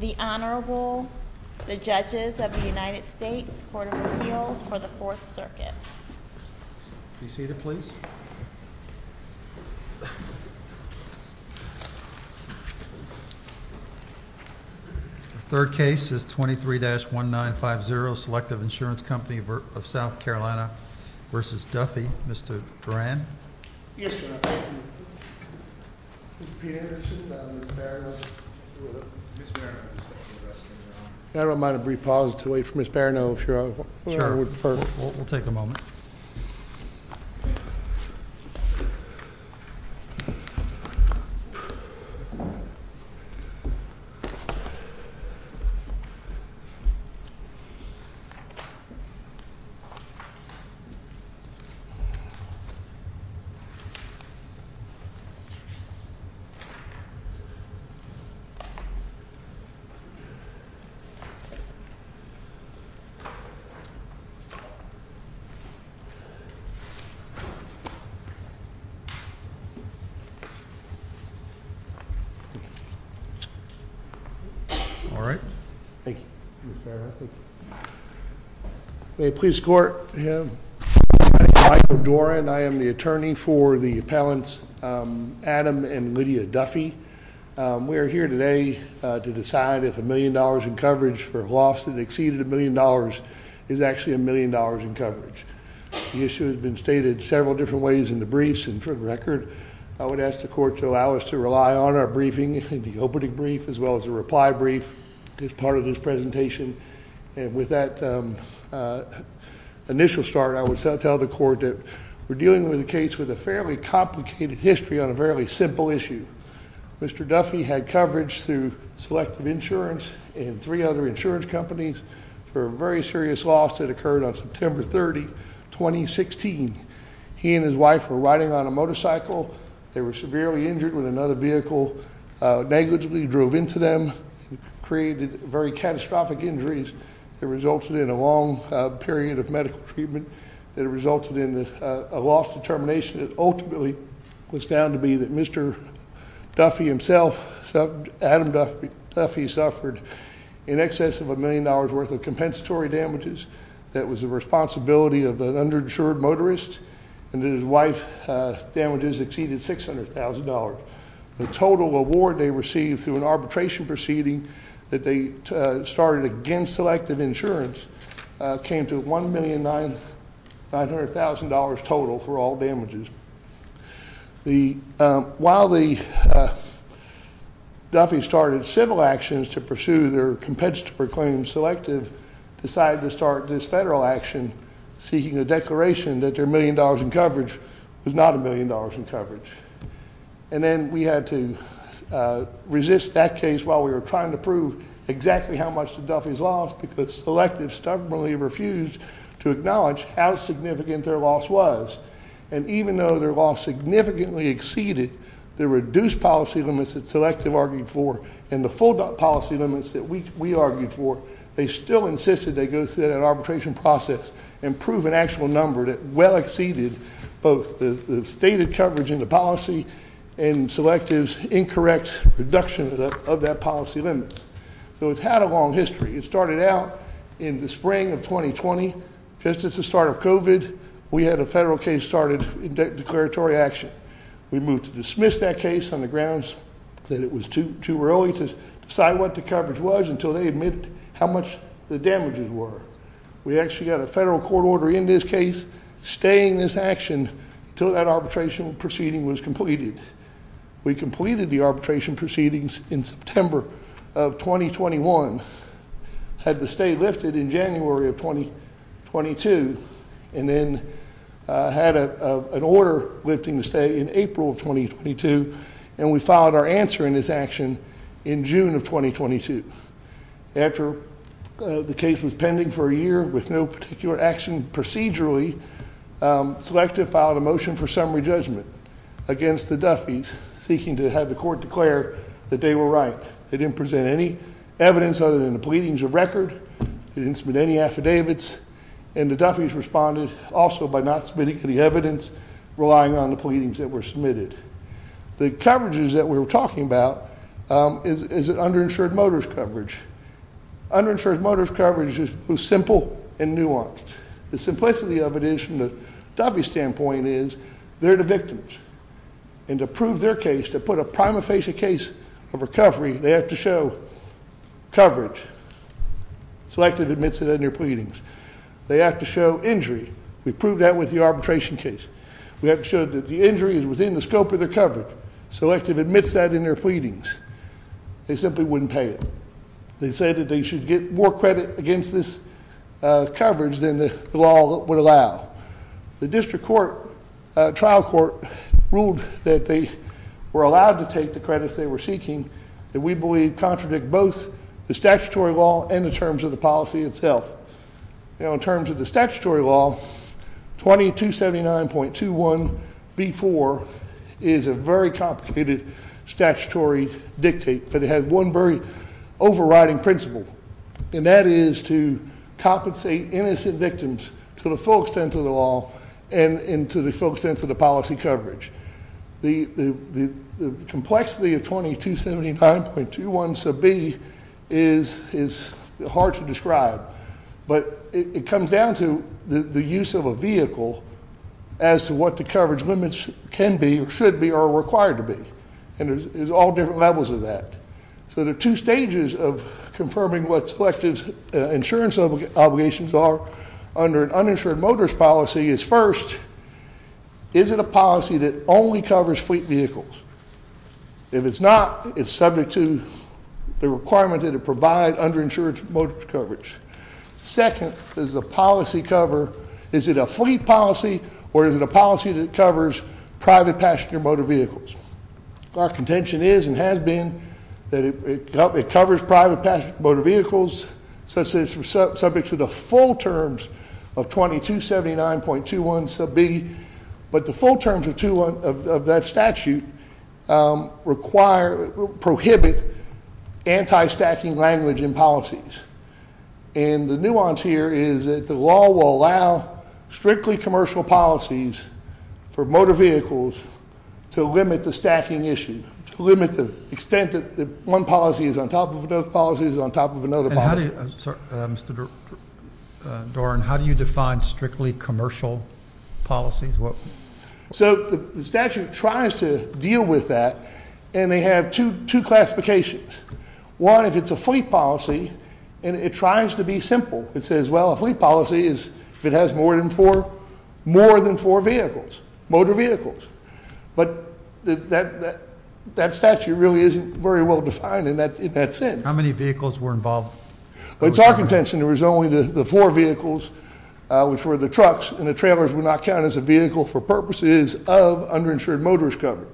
The Honorable, the Judges of the United States Court of Appeals for the Fourth Circuit. Be seated please. The third case is 23-1950 Selective Insurance Company of South Carolina v. Duffy. Mr. Duran. Yes, Your Honor. I don't mind a brief pause to wait for Ms. Barroneau if Your Honor would prefer. We'll take a moment. All right. Thank you. May it please the court. My name is Michael Duran. I am the attorney for the appellants Adam and Lydia Duffy. We are here today to decide if a million dollars in coverage for a loss that exceeded a million dollars is actually a million dollars in coverage. The issue has been stated several different ways in the briefs and for the record, I would ask the court to allow us to rely on our briefing in the opening brief as well as the reply brief. As part of this presentation and with that initial start, I would tell the court that we're dealing with a case with a fairly complicated history on a fairly simple issue. Mr. Duffy had coverage through Selective Insurance and three other insurance companies for a very serious loss that occurred on September 30, 2016. He and his wife were riding on a motorcycle. They were severely injured when another vehicle negligibly drove into them. It created very catastrophic injuries that resulted in a long period of medical treatment. It resulted in a loss determination that ultimately was found to be that Mr. Duffy himself, Adam Duffy suffered in excess of a million dollars worth of compensatory damages. That was the responsibility of an underinsured motorist and his wife's damages exceeded $600,000. The total award they received through an arbitration proceeding that they started against Selective Insurance came to $1,900,000 total for all damages. While Duffy started civil actions to pursue their compensatory claims, Selective decided to start this federal action seeking a declaration that their million dollars in coverage was not a million dollars in coverage. And then we had to resist that case while we were trying to prove exactly how much the Duffys lost because Selective stubbornly refused to acknowledge how significant their loss was. And even though their loss significantly exceeded the reduced policy limits that Selective argued for and the full policy limits that we argued for, they still insisted they go through that arbitration process and prove an actual number that well exceeded both the stated coverage in the policy and Selective's incorrect reduction of that policy limits. So it's had a long history. It started out in the spring of 2020. Just at the start of COVID, we had a federal case started in declaratory action. We moved to dismiss that case on the grounds that it was too early to decide what the coverage was until they admitted how much the damages were. We actually got a federal court order in this case staying this action until that arbitration proceeding was completed. We completed the arbitration proceedings in September of 2021. Had the stay lifted in January of 2022, and then had an order lifting the stay in April of 2022, and we filed our answer in this action in June of 2022. After the case was pending for a year with no particular action procedurally, Selective filed a motion for summary judgment against the Duffys seeking to have the court declare that they were right. They didn't present any evidence other than the pleadings of record. They didn't submit any affidavits, and the Duffys responded also by not submitting any evidence, relying on the pleadings that were submitted. The coverages that we were talking about is an underinsured motorist coverage. Underinsured motorist coverage was simple and nuanced. The simplicity of it is, from the Duffys' standpoint, is they're the victims, and to prove their case, to put a prima facie case of recovery, they have to show coverage. Selective admits it in their pleadings. They have to show injury. We proved that with the arbitration case. We have to show that the injury is within the scope of their coverage. Selective admits that in their pleadings. They simply wouldn't pay it. They said that they should get more credit against this coverage than the law would allow. The district trial court ruled that they were allowed to take the credits they were seeking that we believe contradict both the statutory law and the terms of the policy itself. In terms of the statutory law, 2279.21b4 is a very complicated statutory dictate, but it has one very overriding principle, and that is to compensate innocent victims to the full extent of the law and to the full extent of the policy coverage. The complexity of 2279.21b is hard to describe, but it comes down to the use of a vehicle as to what the coverage limits can be or should be or are required to be, and there's all different levels of that. So there are two stages of confirming what selective insurance obligations are under an uninsured motorist policy is, first, is it a policy that only covers fleet vehicles? If it's not, it's subject to the requirement that it provide underinsured motorist coverage. Second, does the policy cover, is it a fleet policy or is it a policy that covers private passenger motor vehicles? Our contention is and has been that it covers private passenger motor vehicles such that it's subject to the full terms of 2279.21b, but the full terms of that statute prohibit anti-stacking language in policies. And the nuance here is that the law will allow strictly commercial policies for motor vehicles to limit the stacking issue, to limit the extent that one policy is on top of another policy is on top of another policy. And how do you define strictly commercial policies? So the statute tries to deal with that, and they have two classifications. One, if it's a fleet policy, and it tries to be simple. It says, well, a fleet policy is if it has more than four vehicles, motor vehicles. But that statute really isn't very well defined in that sense. How many vehicles were involved? It's our contention there was only the four vehicles, which were the trucks, and the trailers would not count as a vehicle for purposes of underinsured motorist coverage.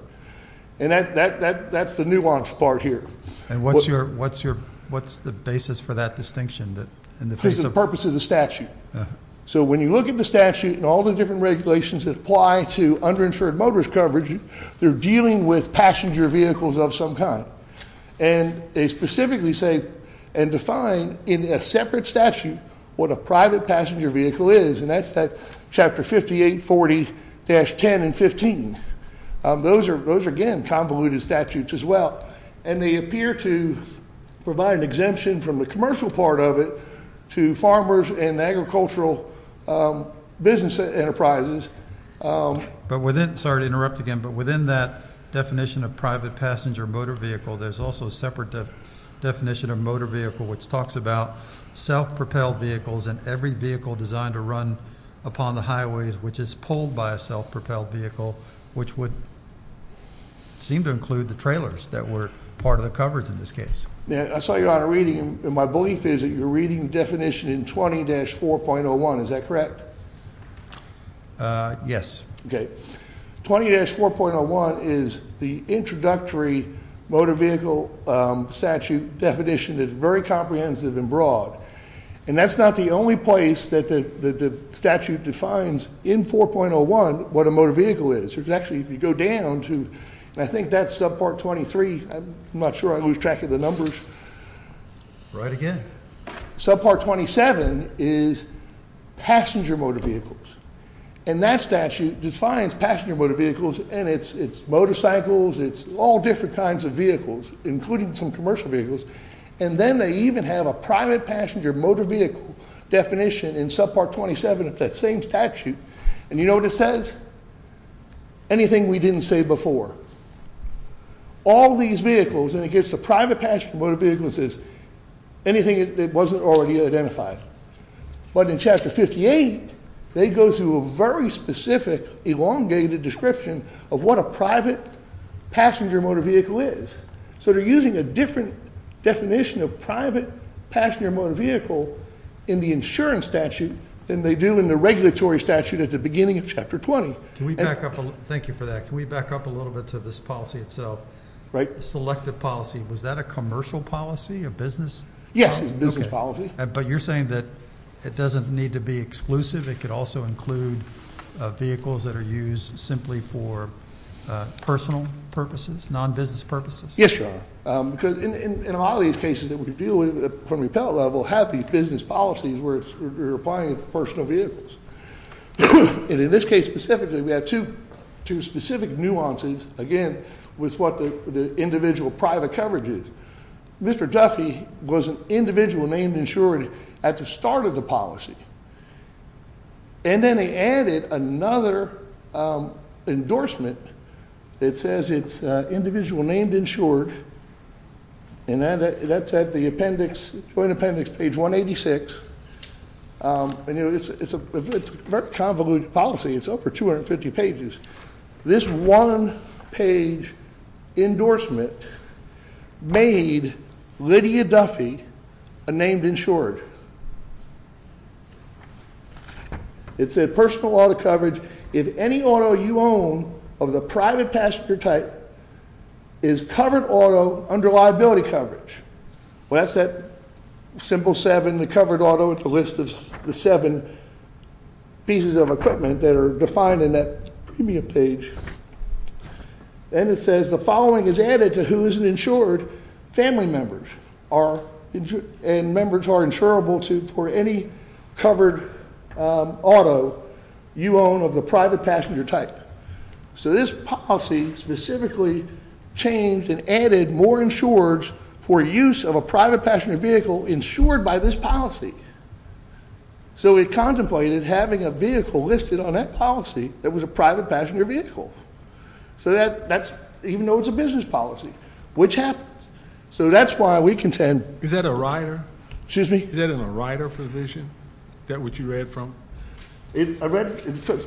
And that's the nuance part here. And what's the basis for that distinction? It's the purpose of the statute. So when you look at the statute and all the different regulations that apply to underinsured motorist coverage, they're dealing with passenger vehicles of some kind. And they specifically say and define in a separate statute what a private passenger vehicle is, and that's Chapter 5840-10 and 15. Those are, again, convoluted statutes as well. And they appear to provide an exemption from the commercial part of it to farmers and agricultural business enterprises. But within that definition of private passenger motor vehicle, there's also a separate definition of motor vehicle which talks about self-propelled vehicles and every vehicle designed to run upon the highways which is pulled by a self-propelled vehicle, which would seem to include the trailers that were part of the coverage in this case. I saw you on a reading, and my belief is that you're reading the definition in 20-4.01. Is that correct? Yes. Okay. 20-4.01 is the introductory motor vehicle statute definition that's very comprehensive and broad. And that's not the only place that the statute defines in 4.01 what a motor vehicle is. Actually, if you go down to, I think that's subpart 23. I'm not sure I lose track of the numbers. Write again. Subpart 27 is passenger motor vehicles. And that statute defines passenger motor vehicles, and it's motorcycles, it's all different kinds of vehicles, including some commercial vehicles. And then they even have a private passenger motor vehicle definition in subpart 27 of that same statute. And you know what it says? Anything we didn't say before. All these vehicles, and it gets to private passenger motor vehicles is anything that wasn't already identified. But in Chapter 58, they go through a very specific, elongated description of what a private passenger motor vehicle is. So they're using a different definition of private passenger motor vehicle in the insurance statute than they do in the regulatory statute at the beginning of Chapter 20. Thank you for that. Can we back up a little bit to this policy itself? Right. Selective policy. Was that a commercial policy, a business policy? Yes, it was a business policy. But you're saying that it doesn't need to be exclusive. It could also include vehicles that are used simply for personal purposes, non-business purposes? Yes, Your Honor. Because in a lot of these cases that we deal with from the appellate level have these business policies where we're applying it to personal vehicles. And in this case specifically, we have two specific nuances, again, with what the individual private coverage is. Mr. Duffy was an individual named insured at the start of the policy. And then they added another endorsement that says it's individual named insured. And that's at the appendix, Joint Appendix, page 186. And, you know, it's a very convoluted policy. It's over 250 pages. This one-page endorsement made Lydia Duffy a named insured. It said personal auto coverage, if any auto you own of the private passenger type is covered auto under liability coverage. Well, that's that simple seven, the covered auto, it's a list of the seven pieces of equipment that are defined in that premium page. And it says the following is added to who is an insured, family members and members are insurable for any covered auto you own of the private passenger type. So this policy specifically changed and added more insureds for use of a private passenger vehicle insured by this policy. So we contemplated having a vehicle listed on that policy that was a private passenger vehicle. So that's, even though it's a business policy, which happens. So that's why we contend. Is that a rider? Excuse me? Is that in a rider provision, that which you read from? It's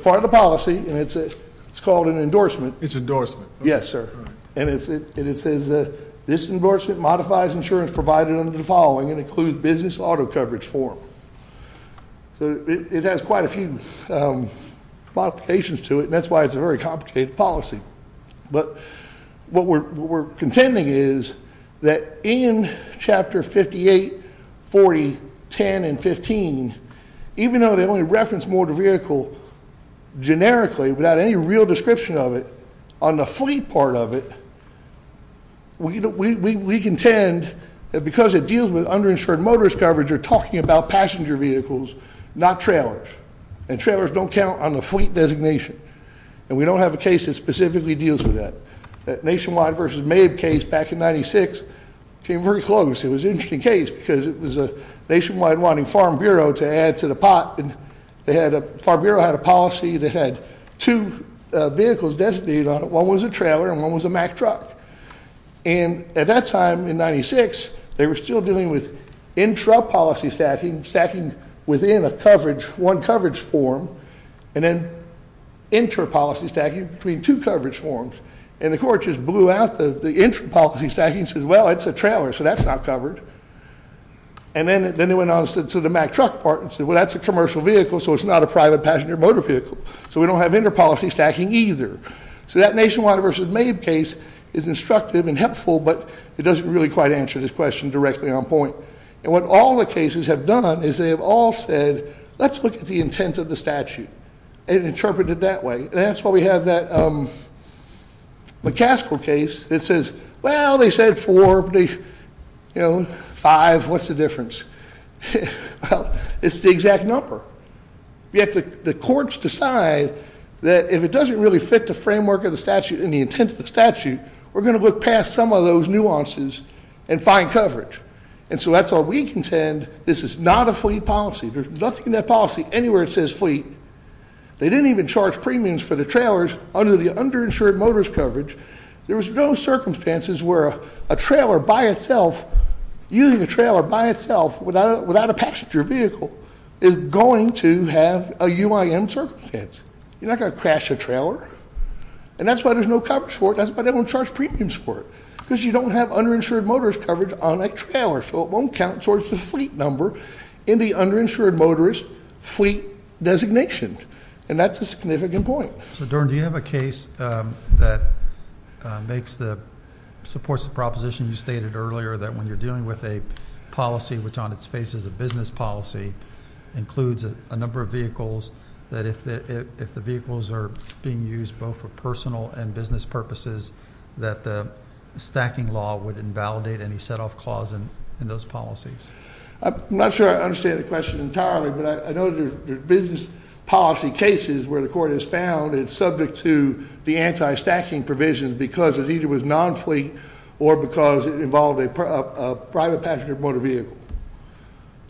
part of the policy, and it's called an endorsement. It's endorsement. Yes, sir. And it says this endorsement modifies insurance provided under the following and includes business auto coverage form. So it has quite a few modifications to it, and that's why it's a very complicated policy. But what we're contending is that in Chapter 58, 40, 10, and 15, even though they only reference motor vehicle generically without any real description of it, on the fleet part of it, we contend that because it deals with underinsured motorist coverage, you're talking about passenger vehicles, not trailers. And trailers don't count on the fleet designation. And we don't have a case that specifically deals with that. That Nationwide versus Mabe case back in 96 came very close. It was an interesting case because it was Nationwide wanting Farm Bureau to add to the pot, and Farm Bureau had a policy that had two vehicles designated on it. One was a trailer, and one was a Mack truck. And at that time in 96, they were still dealing with intrapolicy stacking, stacking within a coverage, one coverage form, and then intrapolicy stacking between two coverage forms. And the court just blew out the intrapolicy stacking and said, well, it's a trailer, so that's not covered. And then they went on to the Mack truck part and said, well, that's a commercial vehicle, so it's not a private passenger motor vehicle. So we don't have intrapolicy stacking either. So that Nationwide versus Mabe case is instructive and helpful, but it doesn't really quite answer this question directly on point. And what all the cases have done is they have all said, let's look at the intent of the statute and interpret it that way. And that's why we have that McCaskill case that says, well, they said four, but they, you know, five, what's the difference? Well, it's the exact number. Yet the courts decide that if it doesn't really fit the framework of the statute and the intent of the statute, we're going to look past some of those nuances and find coverage. And so that's why we contend this is not a fleet policy. There's nothing in that policy anywhere that says fleet. They didn't even charge premiums for the trailers under the underinsured motors coverage. There was no circumstances where a trailer by itself, using a trailer by itself without a passenger vehicle, is going to have a UIM circumstance. You're not going to crash a trailer. And that's why there's no coverage for it. That's why they don't charge premiums for it, because you don't have underinsured motors coverage on a trailer. So it won't count towards the fleet number in the underinsured motorist fleet designation. And that's a significant point. So, Dern, do you have a case that supports the proposition you stated earlier, that when you're dealing with a policy which on its face is a business policy, includes a number of vehicles, that if the vehicles are being used both for personal and business purposes, that the stacking law would invalidate any set-off clause in those policies? I'm not sure I understand the question entirely, but I know there's business policy cases where the court has found it's subject to the anti-stacking provision because it either was non-fleet or because it involved a private passenger motor vehicle.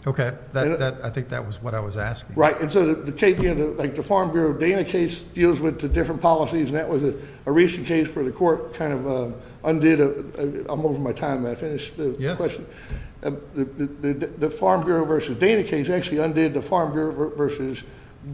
Okay. I think that was what I was asking. Right. And so the Farm Bureau Dana case deals with the different policies, and that was a recent case where the court kind of undid a – I'm over my time. May I finish the question? The Farm Bureau versus Dana case actually undid the Farm Bureau versus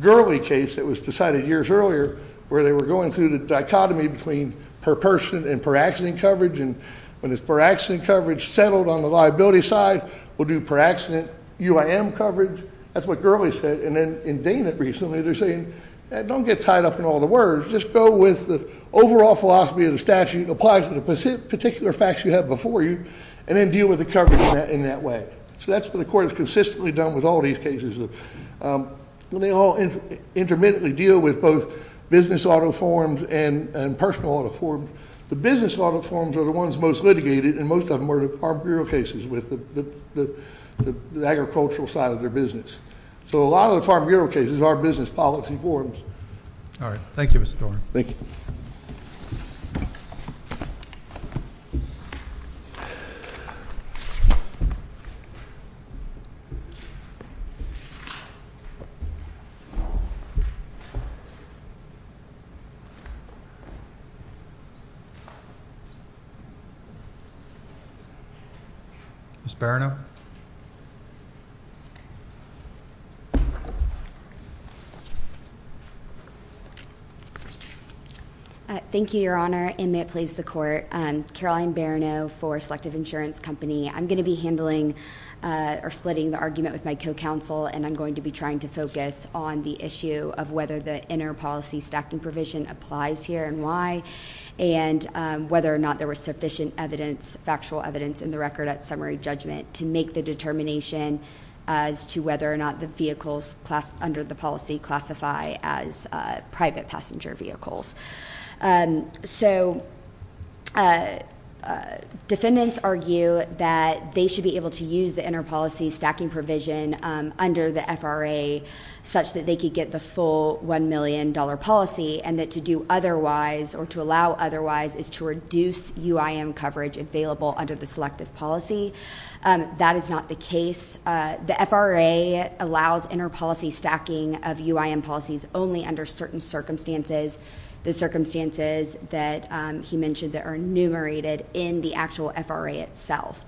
Gurley case that was decided years earlier, where they were going through the dichotomy between per-person and per-accident coverage, and when it's per-accident coverage settled on the liability side, we'll do per-accident UIM coverage. That's what Gurley said. And then in Dana recently, they're saying, don't get tied up in all the words. Just go with the overall philosophy of the statute. Apply to the particular facts you have before you, and then deal with the coverage in that way. So that's what the court has consistently done with all these cases. They all intermittently deal with both business auto forms and personal auto forms. The business auto forms are the ones most litigated, and most of them are the Farm Bureau cases with the agricultural side of their business. So a lot of the Farm Bureau cases are business policy forms. All right. Thank you, Mr. Doran. Thank you. Ms. Barino. Thank you, Your Honor. Thank you, Your Honor, and may it please the Court. Caroline Barino for Selective Insurance Company. I'm going to be handling or splitting the argument with my co-counsel, and I'm going to be trying to focus on the issue of whether the inter-policy stacking provision applies here and why, and whether or not there was sufficient factual evidence in the record at summary judgment to make the determination as to whether or not the vehicles under the policy classify as private passenger vehicles. So defendants argue that they should be able to use the inter-policy stacking provision under the FRA such that they could get the full $1 million policy, and that to do otherwise or to allow otherwise is to reduce UIM coverage available under the selective policy. That is not the case. The FRA allows inter-policy stacking of UIM policies only under certain circumstances, the circumstances that he mentioned that are enumerated in the actual FRA itself.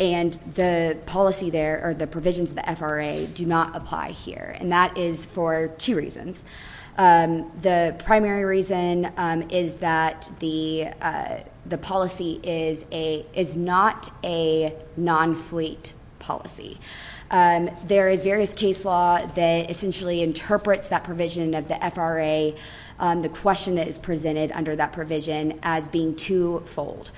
And the policy there or the provisions of the FRA do not apply here, and that is for two reasons. The primary reason is that the policy is not a non-fleet policy. There is various case law that essentially interprets that provision of the FRA, the question that is presented under that provision, as being twofold.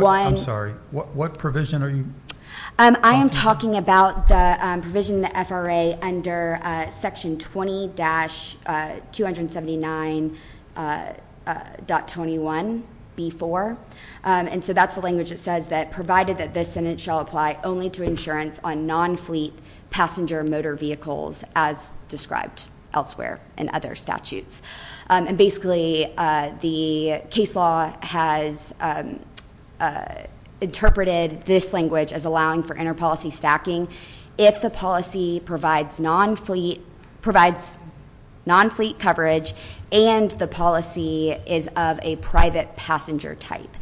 I'm sorry. What provision are you talking about? I'm talking about the provision in the FRA under Section 20-279.21B4, and so that's the language that says that provided that this sentence shall apply only to insurance on non-fleet passenger motor vehicles, as described elsewhere in other statutes. And basically the case law has interpreted this language as allowing for inter-policy stacking if the policy provides non-fleet coverage and the policy is of a private passenger type.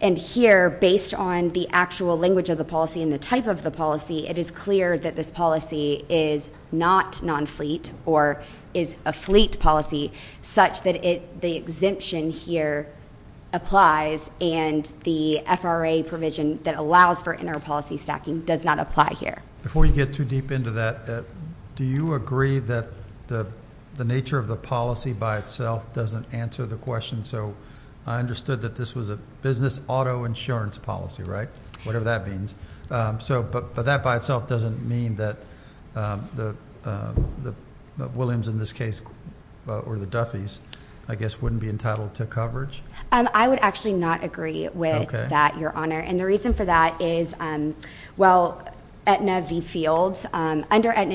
And here, based on the actual language of the policy and the type of the policy, it is clear that this policy is not non-fleet or is a fleet policy such that the exemption here applies and the FRA provision that allows for inter-policy stacking does not apply here. Before you get too deep into that, do you agree that the nature of the policy by itself doesn't answer the question? So I understood that this was a business auto insurance policy, right, whatever that means. But that by itself doesn't mean that the Williams, in this case, or the Duffeys, I guess, wouldn't be entitled to coverage? I would actually not agree with that, Your Honor, and the reason for that is, well, under Aetna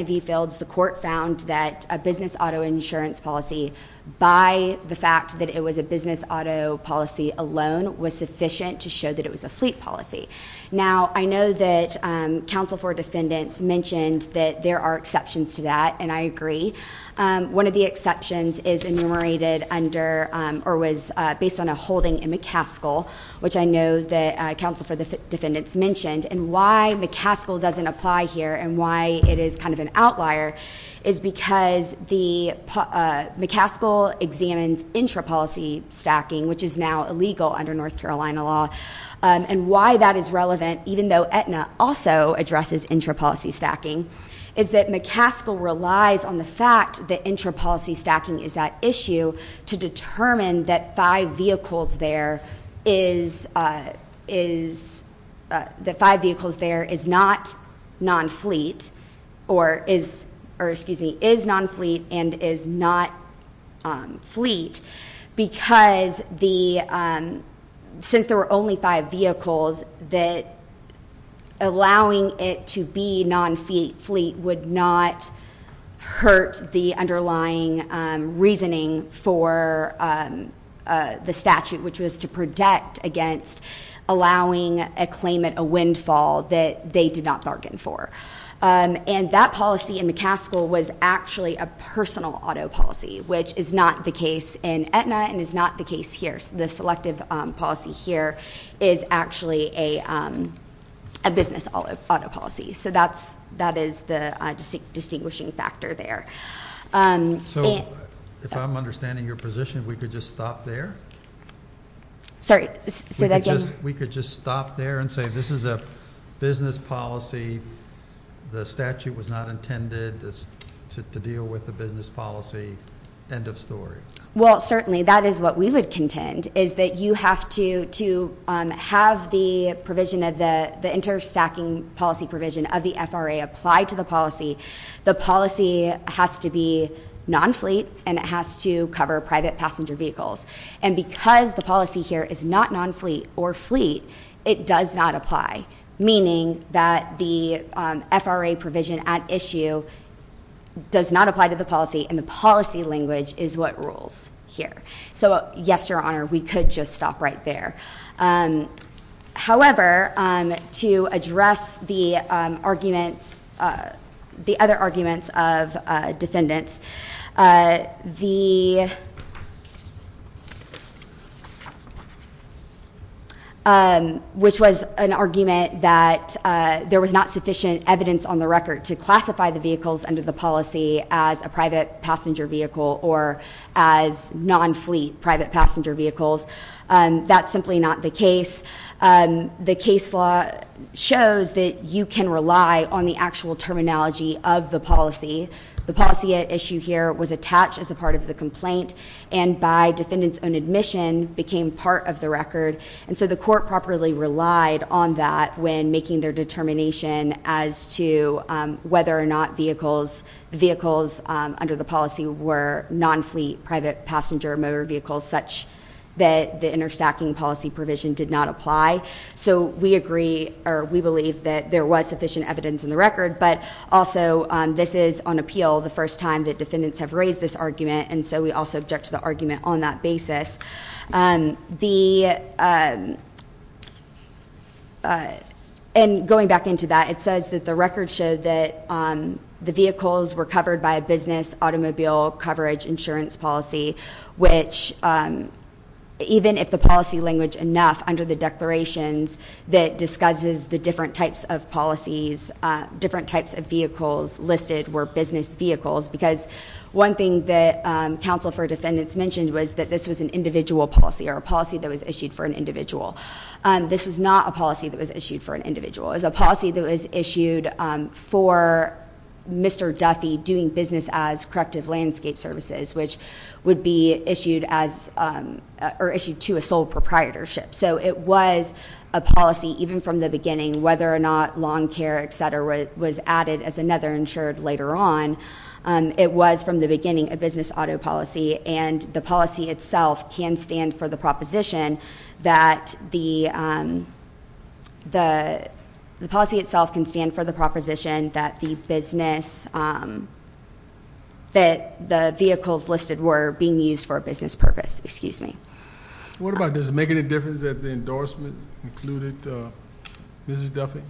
v. Fields, the court found that a business auto insurance policy, by the fact that it was a business auto policy alone, was sufficient to show that it was a fleet policy. Now, I know that counsel for defendants mentioned that there are exceptions to that, and I agree. One of the exceptions is enumerated under or was based on a holding in McCaskill, which I know that counsel for defendants mentioned, and why McCaskill doesn't apply here and why it is kind of an outlier is because McCaskill examines inter-policy stacking, which is now illegal under North Carolina law, and why that is relevant, even though Aetna also addresses inter-policy stacking, is that McCaskill relies on the fact that inter-policy stacking is at issue to determine that five vehicles there is not non-fleet or is non-fleet and is not fleet because since there were only five vehicles, that allowing it to be non-fleet would not hurt the underlying reasoning for the statute, which was to protect against allowing a claimant a windfall that they did not bargain for. That policy in McCaskill was actually a personal auto policy, which is not the case in Aetna and is not the case here. The selective policy here is actually a business auto policy. That is the distinguishing factor there. If I'm understanding your position, we could just stop there? Sorry, say that again? We could just stop there and say this is a business policy. The statute was not intended to deal with a business policy. End of story. Well, certainly that is what we would contend, is that you have to have the provision of the inter-stacking policy provision of the FRA apply to the policy. The policy has to be non-fleet and it has to cover private passenger vehicles. And because the policy here is not non-fleet or fleet, it does not apply, meaning that the FRA provision at issue does not apply to the policy, and the policy language is what rules here. So, yes, Your Honor, we could just stop right there. However, to address the other arguments of defendants, which was an argument that there was not sufficient evidence on the record to classify the vehicles under the policy as a private passenger vehicle or as non-fleet private passenger vehicles, that's simply not the case. The case law shows that you can rely on the actual terminology of the policy. The policy at issue here was attached as a part of the complaint, and by defendants' own admission, became part of the record. And so the court properly relied on that when making their determination as to whether or not vehicles under the policy were non-fleet private passenger motor vehicles, such that the inter-stacking policy provision did not apply. So we agree, or we believe, that there was sufficient evidence in the record, but also this is, on appeal, the first time that defendants have raised this argument, and so we also object to the argument on that basis. And going back into that, it says that the record showed that the vehicles were covered by a business automobile coverage insurance policy, which, even if the policy language enough, under the declarations that discusses the different types of policies, different types of vehicles listed were business vehicles, because one thing that counsel for defendants mentioned was that this was an individual policy or a policy that was issued for an individual. This was not a policy that was issued for an individual. It was a policy that was issued for Mr. Duffy doing business as Corrective Landscape Services, which would be issued to a sole proprietorship. So it was a policy, even from the beginning, whether or not lawn care, et cetera, was added as another insured later on. It was, from the beginning, a business auto policy, and the policy itself can stand for the proposition that the business, that the vehicles listed were being used for a business purpose. Excuse me. What about does it make any difference that the endorsement included Mrs. Duffy?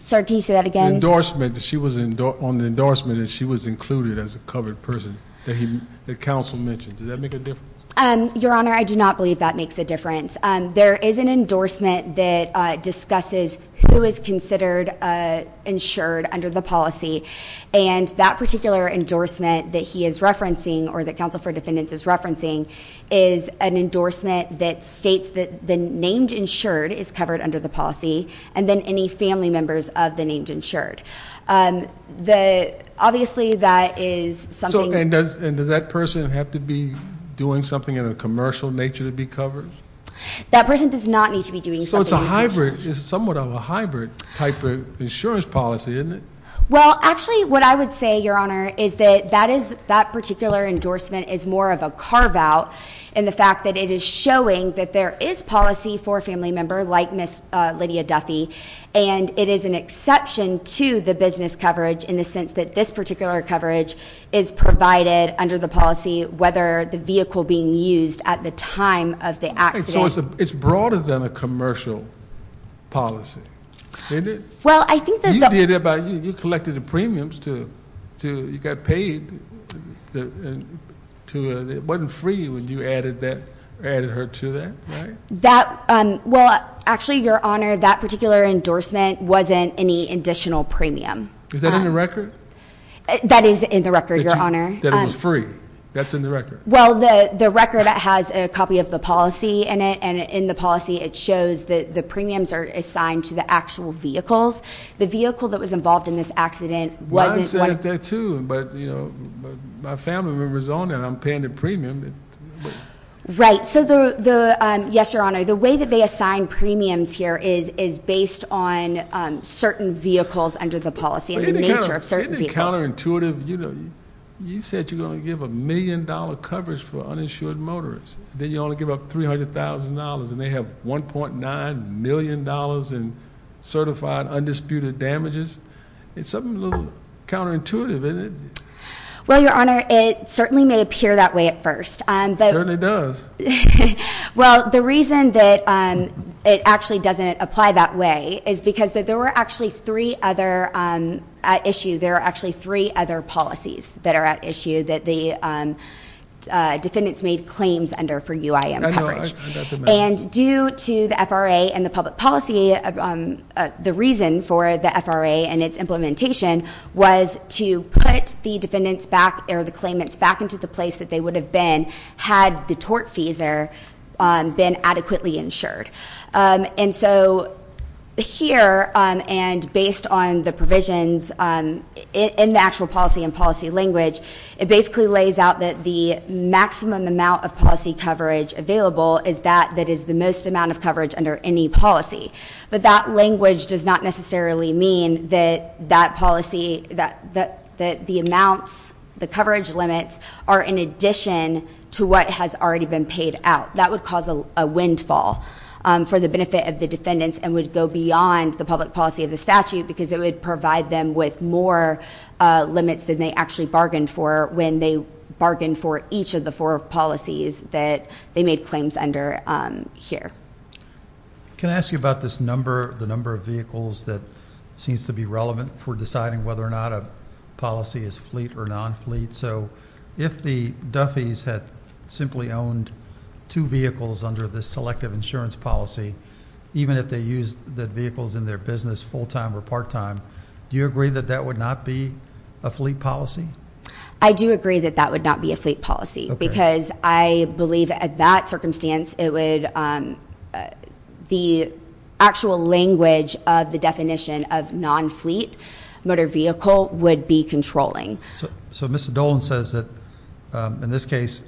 Sir, can you say that again? The endorsement that she was on, the endorsement that she was included as a covered person, that counsel mentioned, does that make a difference? Your Honor, I do not believe that makes a difference. There is an endorsement that discusses who is considered insured under the policy, and that particular endorsement that he is referencing or that counsel for defendants is referencing is an endorsement that states that the named insured is covered under the policy, and then any family members of the named insured. Obviously, that is something. And does that person have to be doing something in a commercial nature to be covered? That person does not need to be doing something. So it's a hybrid. It's somewhat of a hybrid type of insurance policy, isn't it? Well, actually, what I would say, Your Honor, is that that particular endorsement is more of a carve-out in the fact that it is showing that there is policy for a family member like Ms. Lydia Duffy, and it is an exception to the business coverage in the sense that this particular coverage is provided under the policy, whether the vehicle being used at the time of the accident. So it's broader than a commercial policy, isn't it? Well, I think that the – You did it by – you collected the premiums to – you got paid to – it wasn't free when you added her to that, right? That – well, actually, Your Honor, that particular endorsement wasn't any additional premium. Is that in the record? That is in the record, Your Honor. That it was free. That's in the record. Well, the record has a copy of the policy in it, and in the policy it shows that the premiums are assigned to the actual vehicles. The vehicle that was involved in this accident wasn't – Well, it says that too, but, you know, my family member is on it. I'm paying the premium. Right. So the – yes, Your Honor, the way that they assign premiums here is based on certain vehicles under the policy and the nature of certain vehicles. Isn't it counterintuitive? You said you're going to give a million-dollar coverage for uninsured motorists. Then you only give up $300,000, and they have $1.9 million in certified, undisputed damages. It's something a little counterintuitive, isn't it? Well, Your Honor, it certainly may appear that way at first. It certainly does. Well, the reason that it actually doesn't apply that way is because there were actually three other – at issue, there are actually three other policies that are at issue that the defendants made claims under for UIM coverage. I know. I got the message. And due to the FRA and the public policy, the reason for the FRA and its implementation was to put the defendants back – or the claimants back into the place that they would have been had the tort fees there been adequately insured. And so here, and based on the provisions in the actual policy and policy language, it basically lays out that the maximum amount of policy coverage available is that that is the most amount of coverage under any policy. But that language does not necessarily mean that that policy – that the amounts, the coverage limits, are in addition to what has already been paid out. That would cause a windfall for the benefit of the defendants and would go beyond the public policy of the statute because it would provide them with more limits than they actually bargained for when they bargained for each of the four policies that they made claims under here. Can I ask you about this number – the number of vehicles that seems to be relevant for deciding whether or not a policy is fleet or non-fleet? So if the Duffy's had simply owned two vehicles under this selective insurance policy, even if they used the vehicles in their business full-time or part-time, do you agree that that would not be a fleet policy? I do agree that that would not be a fleet policy because I believe at that circumstance it would – the actual language of the definition of non-fleet motor vehicle would be controlling. So Mr. Dolan says that in this case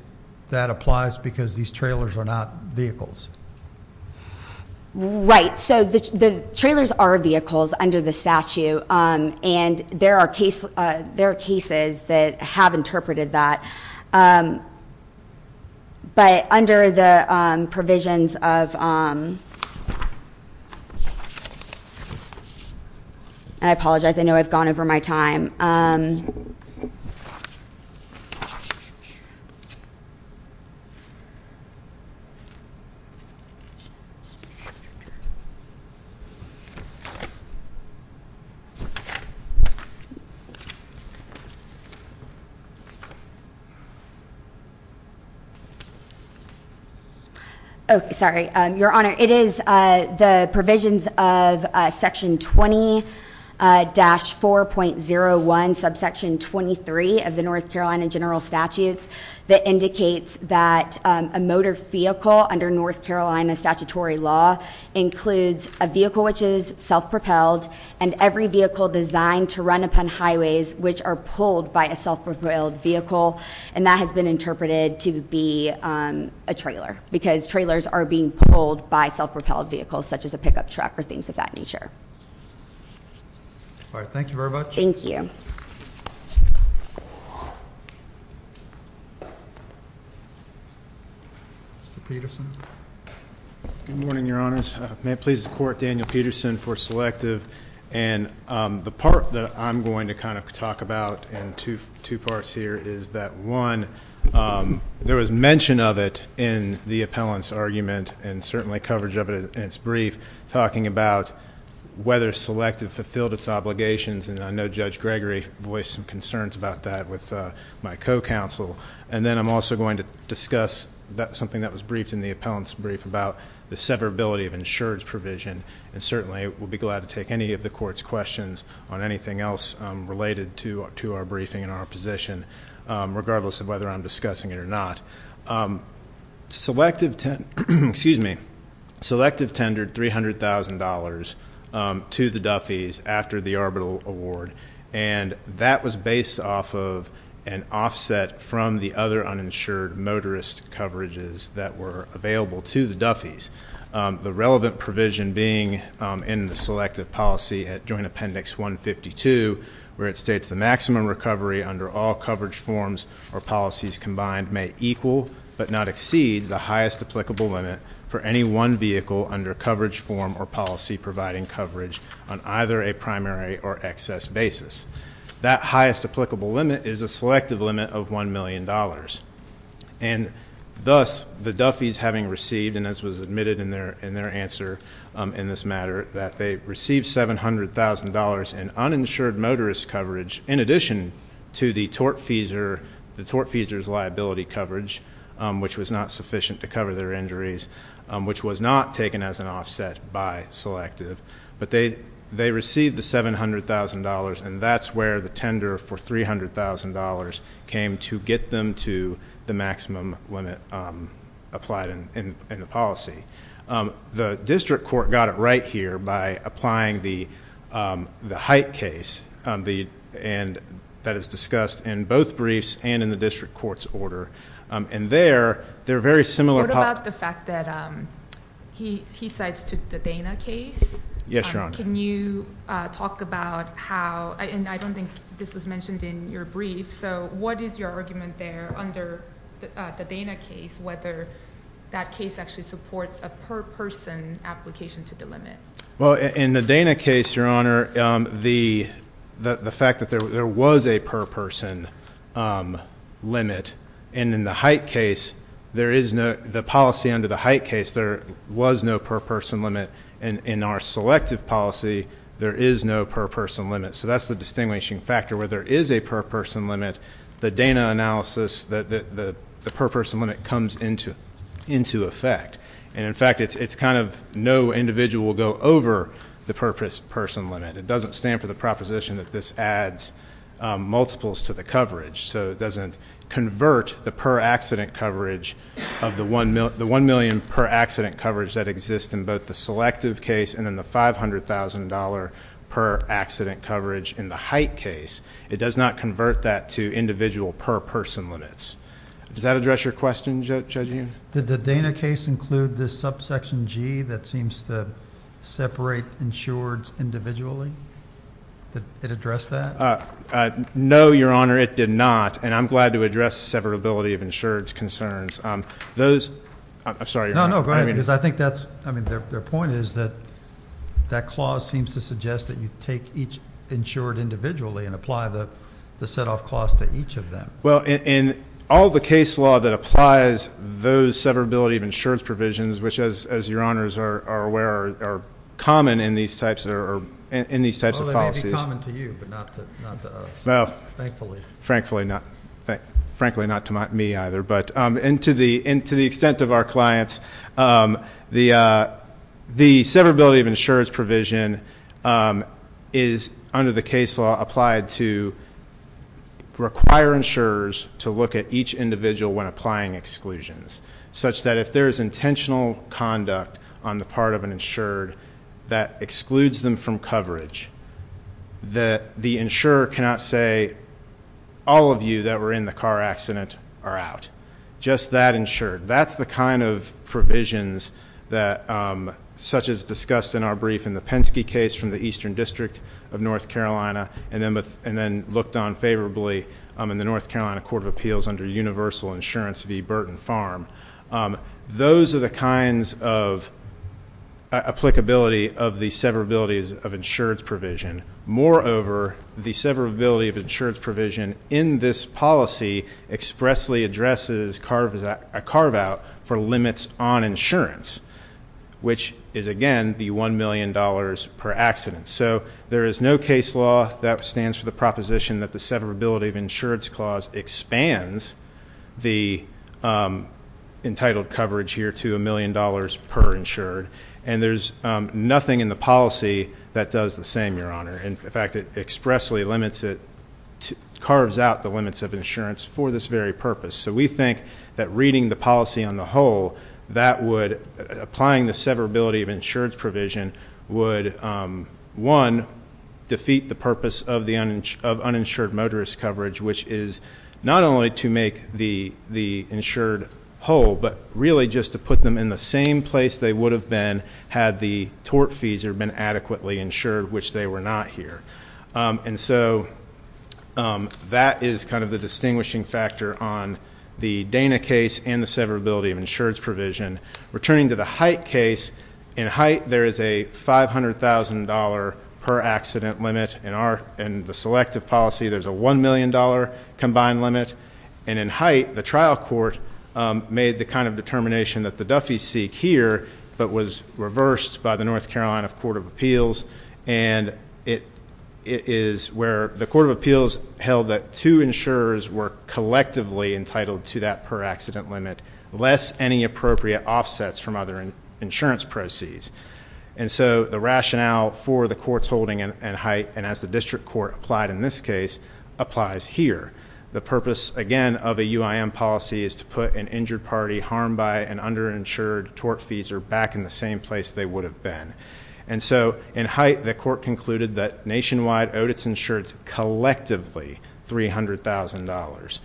that applies because these trailers are not vehicles. Right. So the trailers are vehicles under the statute, and there are cases that have interpreted that. But under the provisions of – and I apologize. I know I've gone over my time. Sorry. Your Honor, it is the provisions of section 20-4.01, subsection 23 of the North Carolina general statutes that indicates that a motor vehicle under North Carolina statutory law includes a vehicle which is self-propelled and every vehicle designed to run upon highways which are pulled by a self-propelled vehicle. And that has been interpreted to be a trailer because trailers are being pulled by self-propelled vehicles such as a pickup truck or things of that nature. All right. Thank you very much. Thank you. Mr. Peterson. Good morning, Your Honors. May it please the Court, Daniel Peterson for selective. And the part that I'm going to kind of talk about in two parts here is that, one, there was mention of it in the appellant's argument and certainly coverage of it in its brief, talking about whether selective fulfilled its obligations. And I know Judge Gregory voiced some concerns about that with my co-counsel. And then I'm also going to discuss something that was briefed in the appellant's brief about the severability of insurance provision. And certainly we'll be glad to take any of the Court's questions on anything else related to our briefing and our position, regardless of whether I'm discussing it or not. Selective tendered $300,000 to the Duffeys after the Arbital Award, and that was based off of an offset from the other uninsured motorist coverages that were available to the Duffeys, the relevant provision being in the selective policy at Joint Appendix 152, where it states the maximum recovery under all coverage forms or policies combined may equal, but not exceed, the highest applicable limit for any one vehicle under coverage form or policy providing coverage on either a primary or excess basis. That highest applicable limit is a selective limit of $1 million. And thus, the Duffeys having received, and as was admitted in their answer in this matter, that they received $700,000 in uninsured motorist coverage in addition to the tortfeasor's liability coverage, which was not sufficient to cover their injuries, which was not taken as an offset by selective. But they received the $700,000, and that's where the tender for $300,000 came to get them to the maximum limit applied in the policy. The district court got it right here by applying the Height case, and that is discussed in both briefs and in the district court's order. What about the fact that he cites the Dana case? Yes, Your Honor. Can you talk about how, and I don't think this was mentioned in your brief, so what is your argument there under the Dana case, whether that case actually supports a per-person application to the limit? Well, in the Dana case, Your Honor, the fact that there was a per-person limit and in the Height case, the policy under the Height case, there was no per-person limit, and in our selective policy, there is no per-person limit. So that's the distinguishing factor where there is a per-person limit. The Dana analysis, the per-person limit comes into effect. And, in fact, it's kind of no individual will go over the per-person limit. It doesn't stand for the proposition that this adds multiples to the coverage. So it doesn't convert the per-accident coverage of the 1 million per-accident coverage that exists in both the selective case and in the $500,000 per-accident coverage in the Height case. It does not convert that to individual per-person limits. Does that address your question, Judge Yoon? Did the Dana case include the subsection G that seems to separate insureds individually? Did it address that? No, Your Honor, it did not, and I'm glad to address severability of insureds concerns. Those – I'm sorry, Your Honor. No, no, go ahead, because I think that's – I mean, their point is that that clause seems to suggest that you take each insured individually and apply the set-off clause to each of them. Well, in all the case law that applies those severability of insureds provisions, which, as Your Honors are aware, are common in these types of policies. They may be common to you, but not to us, thankfully. Well, frankly, not to me either. But to the extent of our clients, the severability of insureds provision is, under the case law, applied to require insurers to look at each individual when applying exclusions, such that if there is intentional conduct on the part of an insured that excludes them from coverage, that the insurer cannot say, all of you that were in the car accident are out. Just that insured. That's the kind of provisions that – such as discussed in our brief in the Penske case from the Eastern District of North Carolina, and then looked on favorably in the North Carolina Court of Appeals under Universal Insurance v. Burton Farm. Those are the kinds of applicability of the severability of insureds provision. Moreover, the severability of insureds provision in this policy expressly addresses a carve-out for limits on insurance, which is, again, the $1 million per accident. So there is no case law that stands for the proposition that the severability of insureds clause expands the entitled coverage here to $1 million per insured. And there's nothing in the policy that does the same, Your Honor. In fact, it expressly limits it – carves out the limits of insurance for this very purpose. So we think that reading the policy on the whole, that would – applying the severability of insureds provision would, one, defeat the purpose of uninsured motorist coverage, which is not only to make the insured whole, but really just to put them in the same place they would have been had the tort fees been adequately insured, which they were not here. And so that is kind of the distinguishing factor on the Dana case and the severability of insureds provision. Returning to the Hite case, in Hite there is a $500,000 per accident limit. In our – in the selective policy, there's a $1 million combined limit. And in Hite, the trial court made the kind of determination that the duffies seek here, but was reversed by the North Carolina Court of Appeals. And it is where the Court of Appeals held that two insurers were collectively entitled to that per accident limit, lest any appropriate offsets from other insurance proceeds. And so the rationale for the court's holding in Hite, and as the district court applied in this case, applies here. The purpose, again, of a UIM policy is to put an injured party harmed by an underinsured tort fees or back in the same place they would have been. And so in Hite, the court concluded that Nationwide owed its insureds collectively $300,000.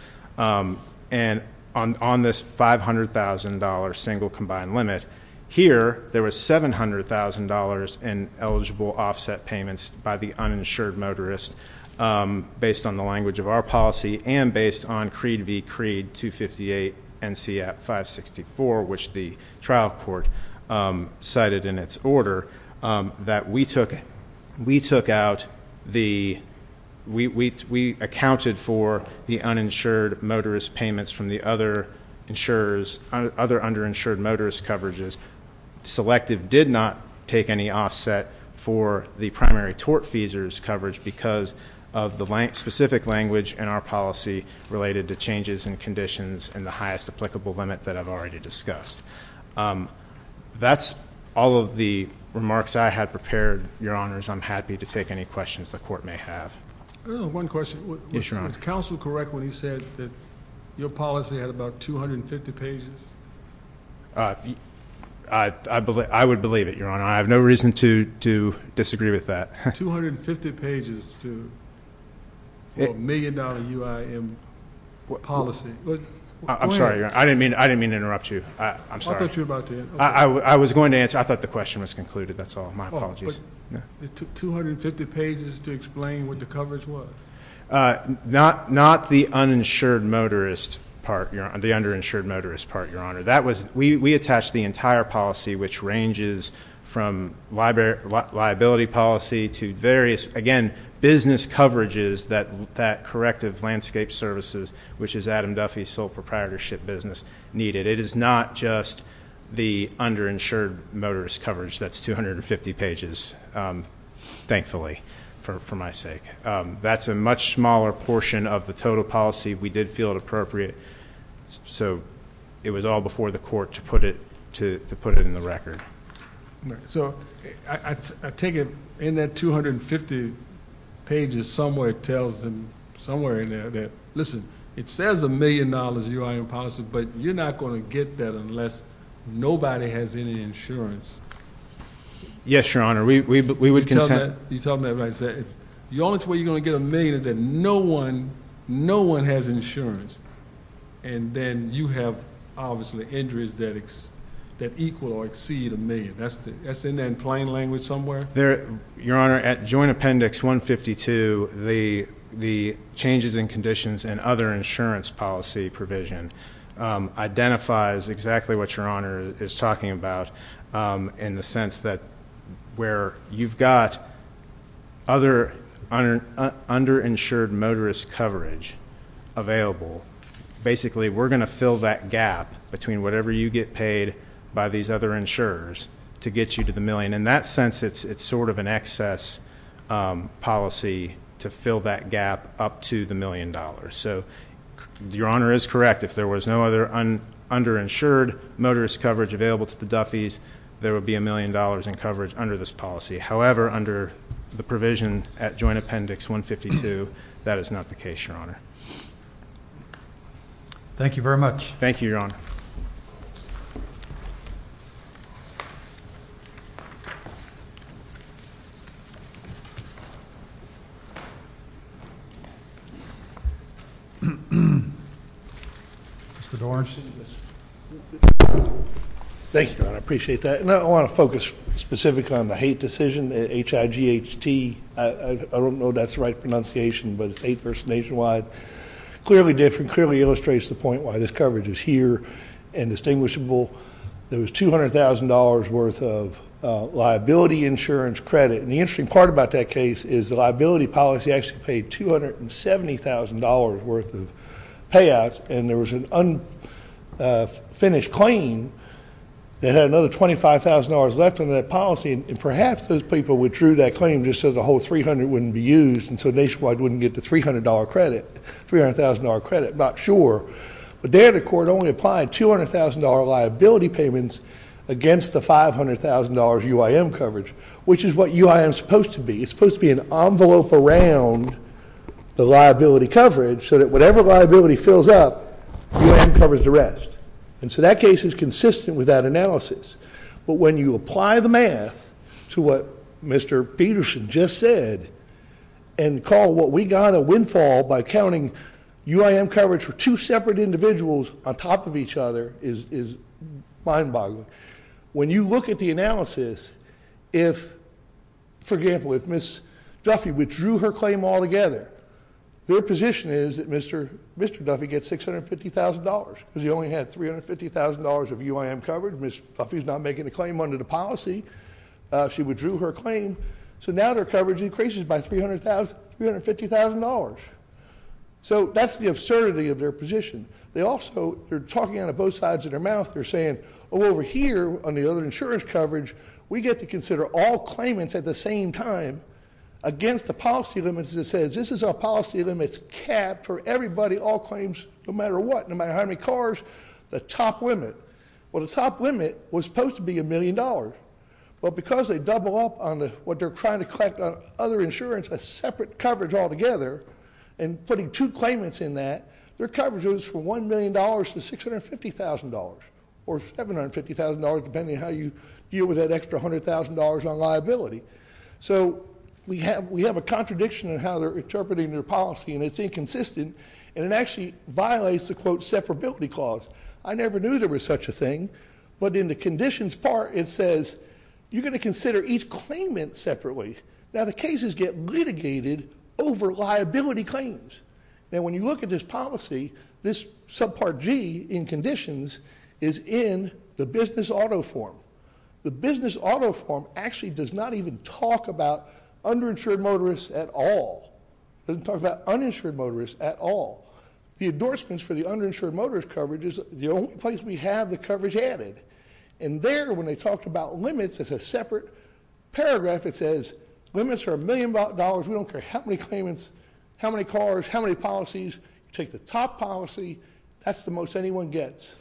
And on this $500,000 single combined limit, here there was $700,000 in eligible offset payments by the uninsured motorist, based on the language of our policy and based on creed v. creed 258 NCAP 564, which the trial court cited in its order, that we took out the, we accounted for the uninsured motorist payments from the other insurers, other underinsured motorist coverages. Selective did not take any offset for the primary tort fees coverage because of the specific language in our policy related to changes in conditions and the highest applicable limit that I've already discussed. That's all of the remarks I had prepared, Your Honors. I'm happy to take any questions the court may have. One question. Yes, Your Honor. Was counsel correct when he said that your policy had about 250 pages? I would believe it, Your Honor. I have no reason to disagree with that. 250 pages for a million-dollar UIM policy. I'm sorry, Your Honor. I didn't mean to interrupt you. I'm sorry. I thought you were about to end. I was going to answer. I thought the question was concluded. That's all. My apologies. It took 250 pages to explain what the coverage was? Not the uninsured motorist part, Your Honor, the underinsured motorist part, Your Honor. We attached the entire policy, which ranges from liability policy to various, again, business coverages that corrective landscape services, which is Adam Duffy's sole proprietorship business, needed. It is not just the underinsured motorist coverage. That's 250 pages, thankfully, for my sake. That's a much smaller portion of the total policy. We did feel it appropriate. It was all before the court to put it in the record. I take it in that 250 pages somewhere tells them, somewhere in there, that, listen, it says a million-dollar UIM policy, but you're not going to get that unless nobody has any insurance. Yes, Your Honor. We would contend. You're talking about, like I said, the only way you're going to get a million is if no one has insurance, and then you have, obviously, injuries that equal or exceed a million. That's in there in plain language somewhere? Your Honor, at Joint Appendix 152, the changes in conditions and other insurance policy provision identifies exactly what Your Honor is talking about in the sense that where you've got other underinsured motorist coverage available, basically, we're going to fill that gap between whatever you get paid by these other insurers to get you to the million. In that sense, it's sort of an excess policy to fill that gap up to the million dollars. Your Honor is correct. If there was no other underinsured motorist coverage available to the Duffeys, there would be a million dollars in coverage under this policy. However, under the provision at Joint Appendix 152, that is not the case, Your Honor. Thank you very much. Thank you, Your Honor. Mr. Doran. Thank you, Your Honor. I appreciate that. I want to focus specifically on the Haight decision, H-I-G-H-T. I don't know if that's the right pronunciation, but it's Haight versus Nationwide. Clearly different. Clearly illustrates the point why this coverage is here and distinguishable. There was $200,000 worth of liability insurance credit. The interesting part about that case is the liability policy actually paid $270,000 worth of payouts, and there was an unfinished claim that had another $25,000 left in that policy, and perhaps those people withdrew that claim just so the whole $300,000 wouldn't be used and so Nationwide wouldn't get the $300,000 credit. I'm not sure. But there the court only applied $200,000 liability payments against the $500,000 UIM coverage, which is what UIM is supposed to be. It's supposed to be an envelope around the liability coverage so that whatever liability fills up, UIM covers the rest. And so that case is consistent with that analysis. But when you apply the math to what Mr. Peterson just said and call what we got a windfall by counting UIM coverage for two separate individuals on top of each other is mind-boggling. When you look at the analysis, if, for example, if Ms. Duffy withdrew her claim altogether, their position is that Mr. Duffy gets $650,000 because he only had $350,000 of UIM coverage. Ms. Duffy's not making a claim under the policy. She withdrew her claim. So now their coverage increases by $350,000. So that's the absurdity of their position. They also are talking out of both sides of their mouth. They're saying, oh, over here on the other insurance coverage, we get to consider all claimants at the same time against the policy limits, as it says. This is a policy limits cap for everybody, all claims, no matter what, no matter how many cars, the top limit. Well, the top limit was supposed to be $1 million. Well, because they double up on what they're trying to collect on other insurance, a separate coverage altogether, and putting two claimants in that, their coverage goes from $1 million to $650,000 or $750,000, depending on how you deal with that extra $100,000 on liability. So we have a contradiction in how they're interpreting their policy, and it's inconsistent, and it actually violates the, quote, separability clause. I never knew there was such a thing. But in the conditions part, it says you're going to consider each claimant separately. Now, the cases get litigated over liability claims. Now, when you look at this policy, this subpart G in conditions is in the business auto form. The business auto form actually does not even talk about underinsured motorists at all. It doesn't talk about uninsured motorists at all. The endorsements for the underinsured motorist coverage is the only place we have the coverage added. And there, when they talked about limits as a separate paragraph, it says limits are $1 million. We don't care about dollars. We don't care how many claimants, how many cars, how many policies. You take the top policy, that's the most anyone gets.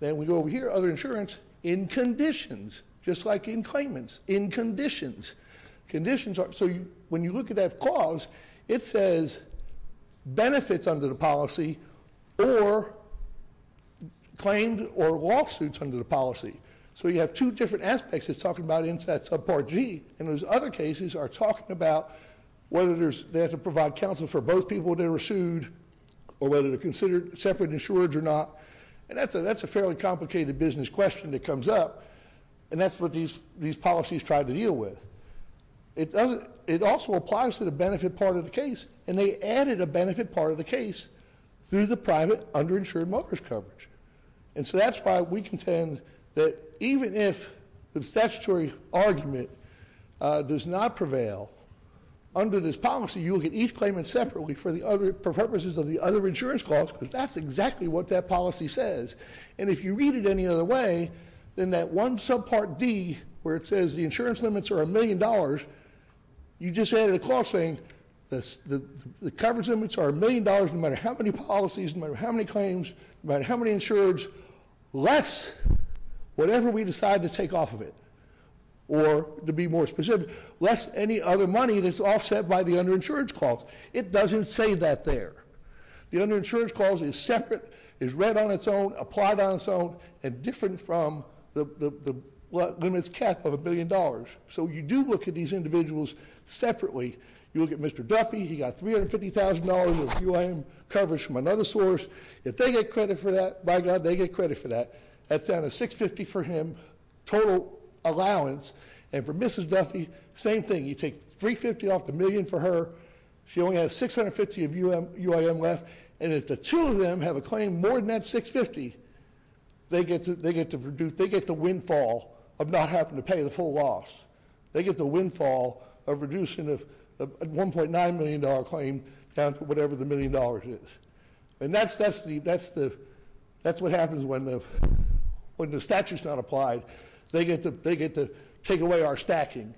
Then we go over here, other insurance, in conditions, just like in claimants, in conditions. So when you look at that clause, it says benefits under the policy or claimed or lawsuits under the policy. So you have two different aspects it's talking about in that subpart G. And those other cases are talking about whether they have to provide counsel for both people they were sued or whether they're considered separate insured or not. And that's a fairly complicated business question that comes up. And that's what these policies try to deal with. It also applies to the benefit part of the case. And they added a benefit part of the case through the private underinsured motorist coverage. And so that's why we contend that even if the statutory argument does not prevail under this policy, you will get each claimant separately for purposes of the other insurance clause, because that's exactly what that policy says. And if you read it any other way, then that one subpart D, where it says the insurance limits are $1 million, you just added a clause saying the coverage limits are $1 million no matter how many policies, no matter how many claims, no matter how many insureds, less whatever we decide to take off of it. Or to be more specific, less any other money that's offset by the underinsured clause. It doesn't say that there. The underinsured clause is separate, is read on its own, applied on its own, and different from the limits kept of $1 billion. So you do look at these individuals separately. You look at Mr. Duffy. He got $350,000 of UIM coverage from another source. If they get credit for that, by God, they get credit for that. That's out of $650,000 for him, total allowance. And for Mrs. Duffy, same thing. You take $350,000 off the million for her. She only has $650,000 of UIM left. And if the two of them have a claim more than that $650,000, they get the windfall of not having to pay the full loss. They get the windfall of reducing a $1.9 million claim down to whatever the million dollars is. And that's what happens when the statute's not applied. They get to take away our stacking.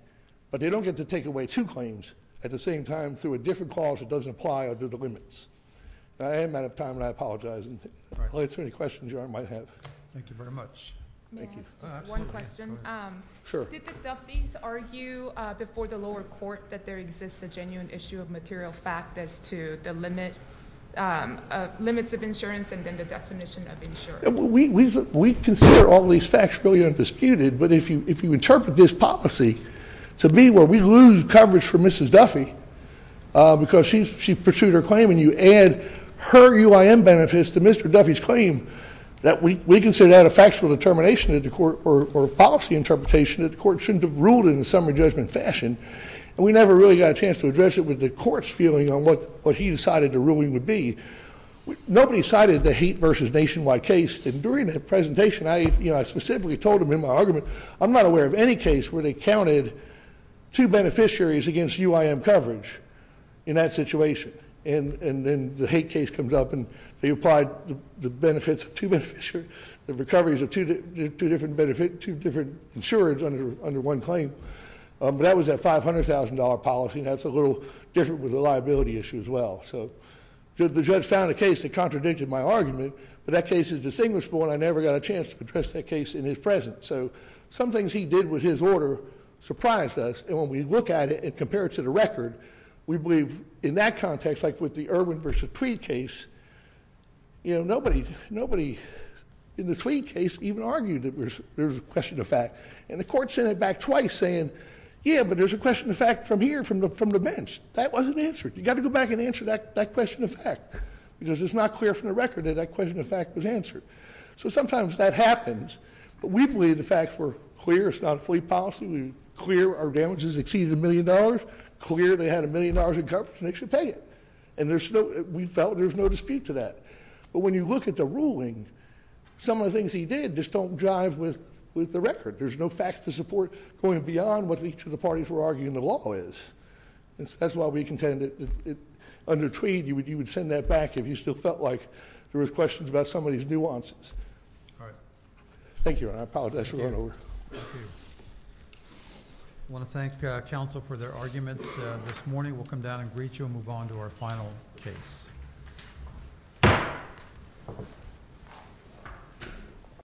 But they don't get to take away two claims at the same time through a different clause that doesn't apply under the limits. I am out of time, and I apologize. I'll answer any questions you all might have. Thank you very much. One question. Sure. Did the Duffys argue before the lower court that there exists a genuine issue of material fact as to the limits of insurance and then the definition of insurance? We consider all these facts really undisputed, but if you interpret this policy to be where we lose coverage for Mrs. Duffy because she pursued her claim and you add her UIM benefits to Mr. Duffy's claim, we consider that a factual determination or policy interpretation that the court shouldn't have ruled in the summary judgment fashion. And we never really got a chance to address it with the court's feeling on what he decided the ruling would be. Nobody cited the hate versus nationwide case. And during the presentation, I specifically told him in my argument, I'm not aware of any case where they counted two beneficiaries against UIM coverage in that situation. And then the hate case comes up, and they applied the benefits of two beneficiaries, the recoveries of two different insurance under one claim. But that was that $500,000 policy, and that's a little different with the liability issue as well. So the judge found a case that contradicted my argument, but that case is distinguishable, and I never got a chance to address that case in his presence. So some things he did with his order surprised us, and when we look at it and compare it to the record, we believe in that context, like with the Irwin versus Tweed case, nobody in the Tweed case even argued that there was a question of fact. And the court sent it back twice saying, yeah, but there's a question of fact from here, from the bench. That wasn't answered. You've got to go back and answer that question of fact, because it's not clear from the record that that question of fact was answered. So sometimes that happens, but we believe the facts were clear. It's not a fleet policy. We're clear our damages exceeded a million dollars, clear they had a million dollars in coverage, and they should pay it. And we felt there's no dispute to that. But when you look at the ruling, some of the things he did just don't jive with the record. There's no facts to support going beyond what each of the parties were arguing the law is. That's why we contended under Tweed you would send that back if you still felt like there was questions about some of these nuances. All right. Thank you, and I apologize for going over. Thank you. I want to thank counsel for their arguments this morning. We'll come down and greet you and move on to our final case.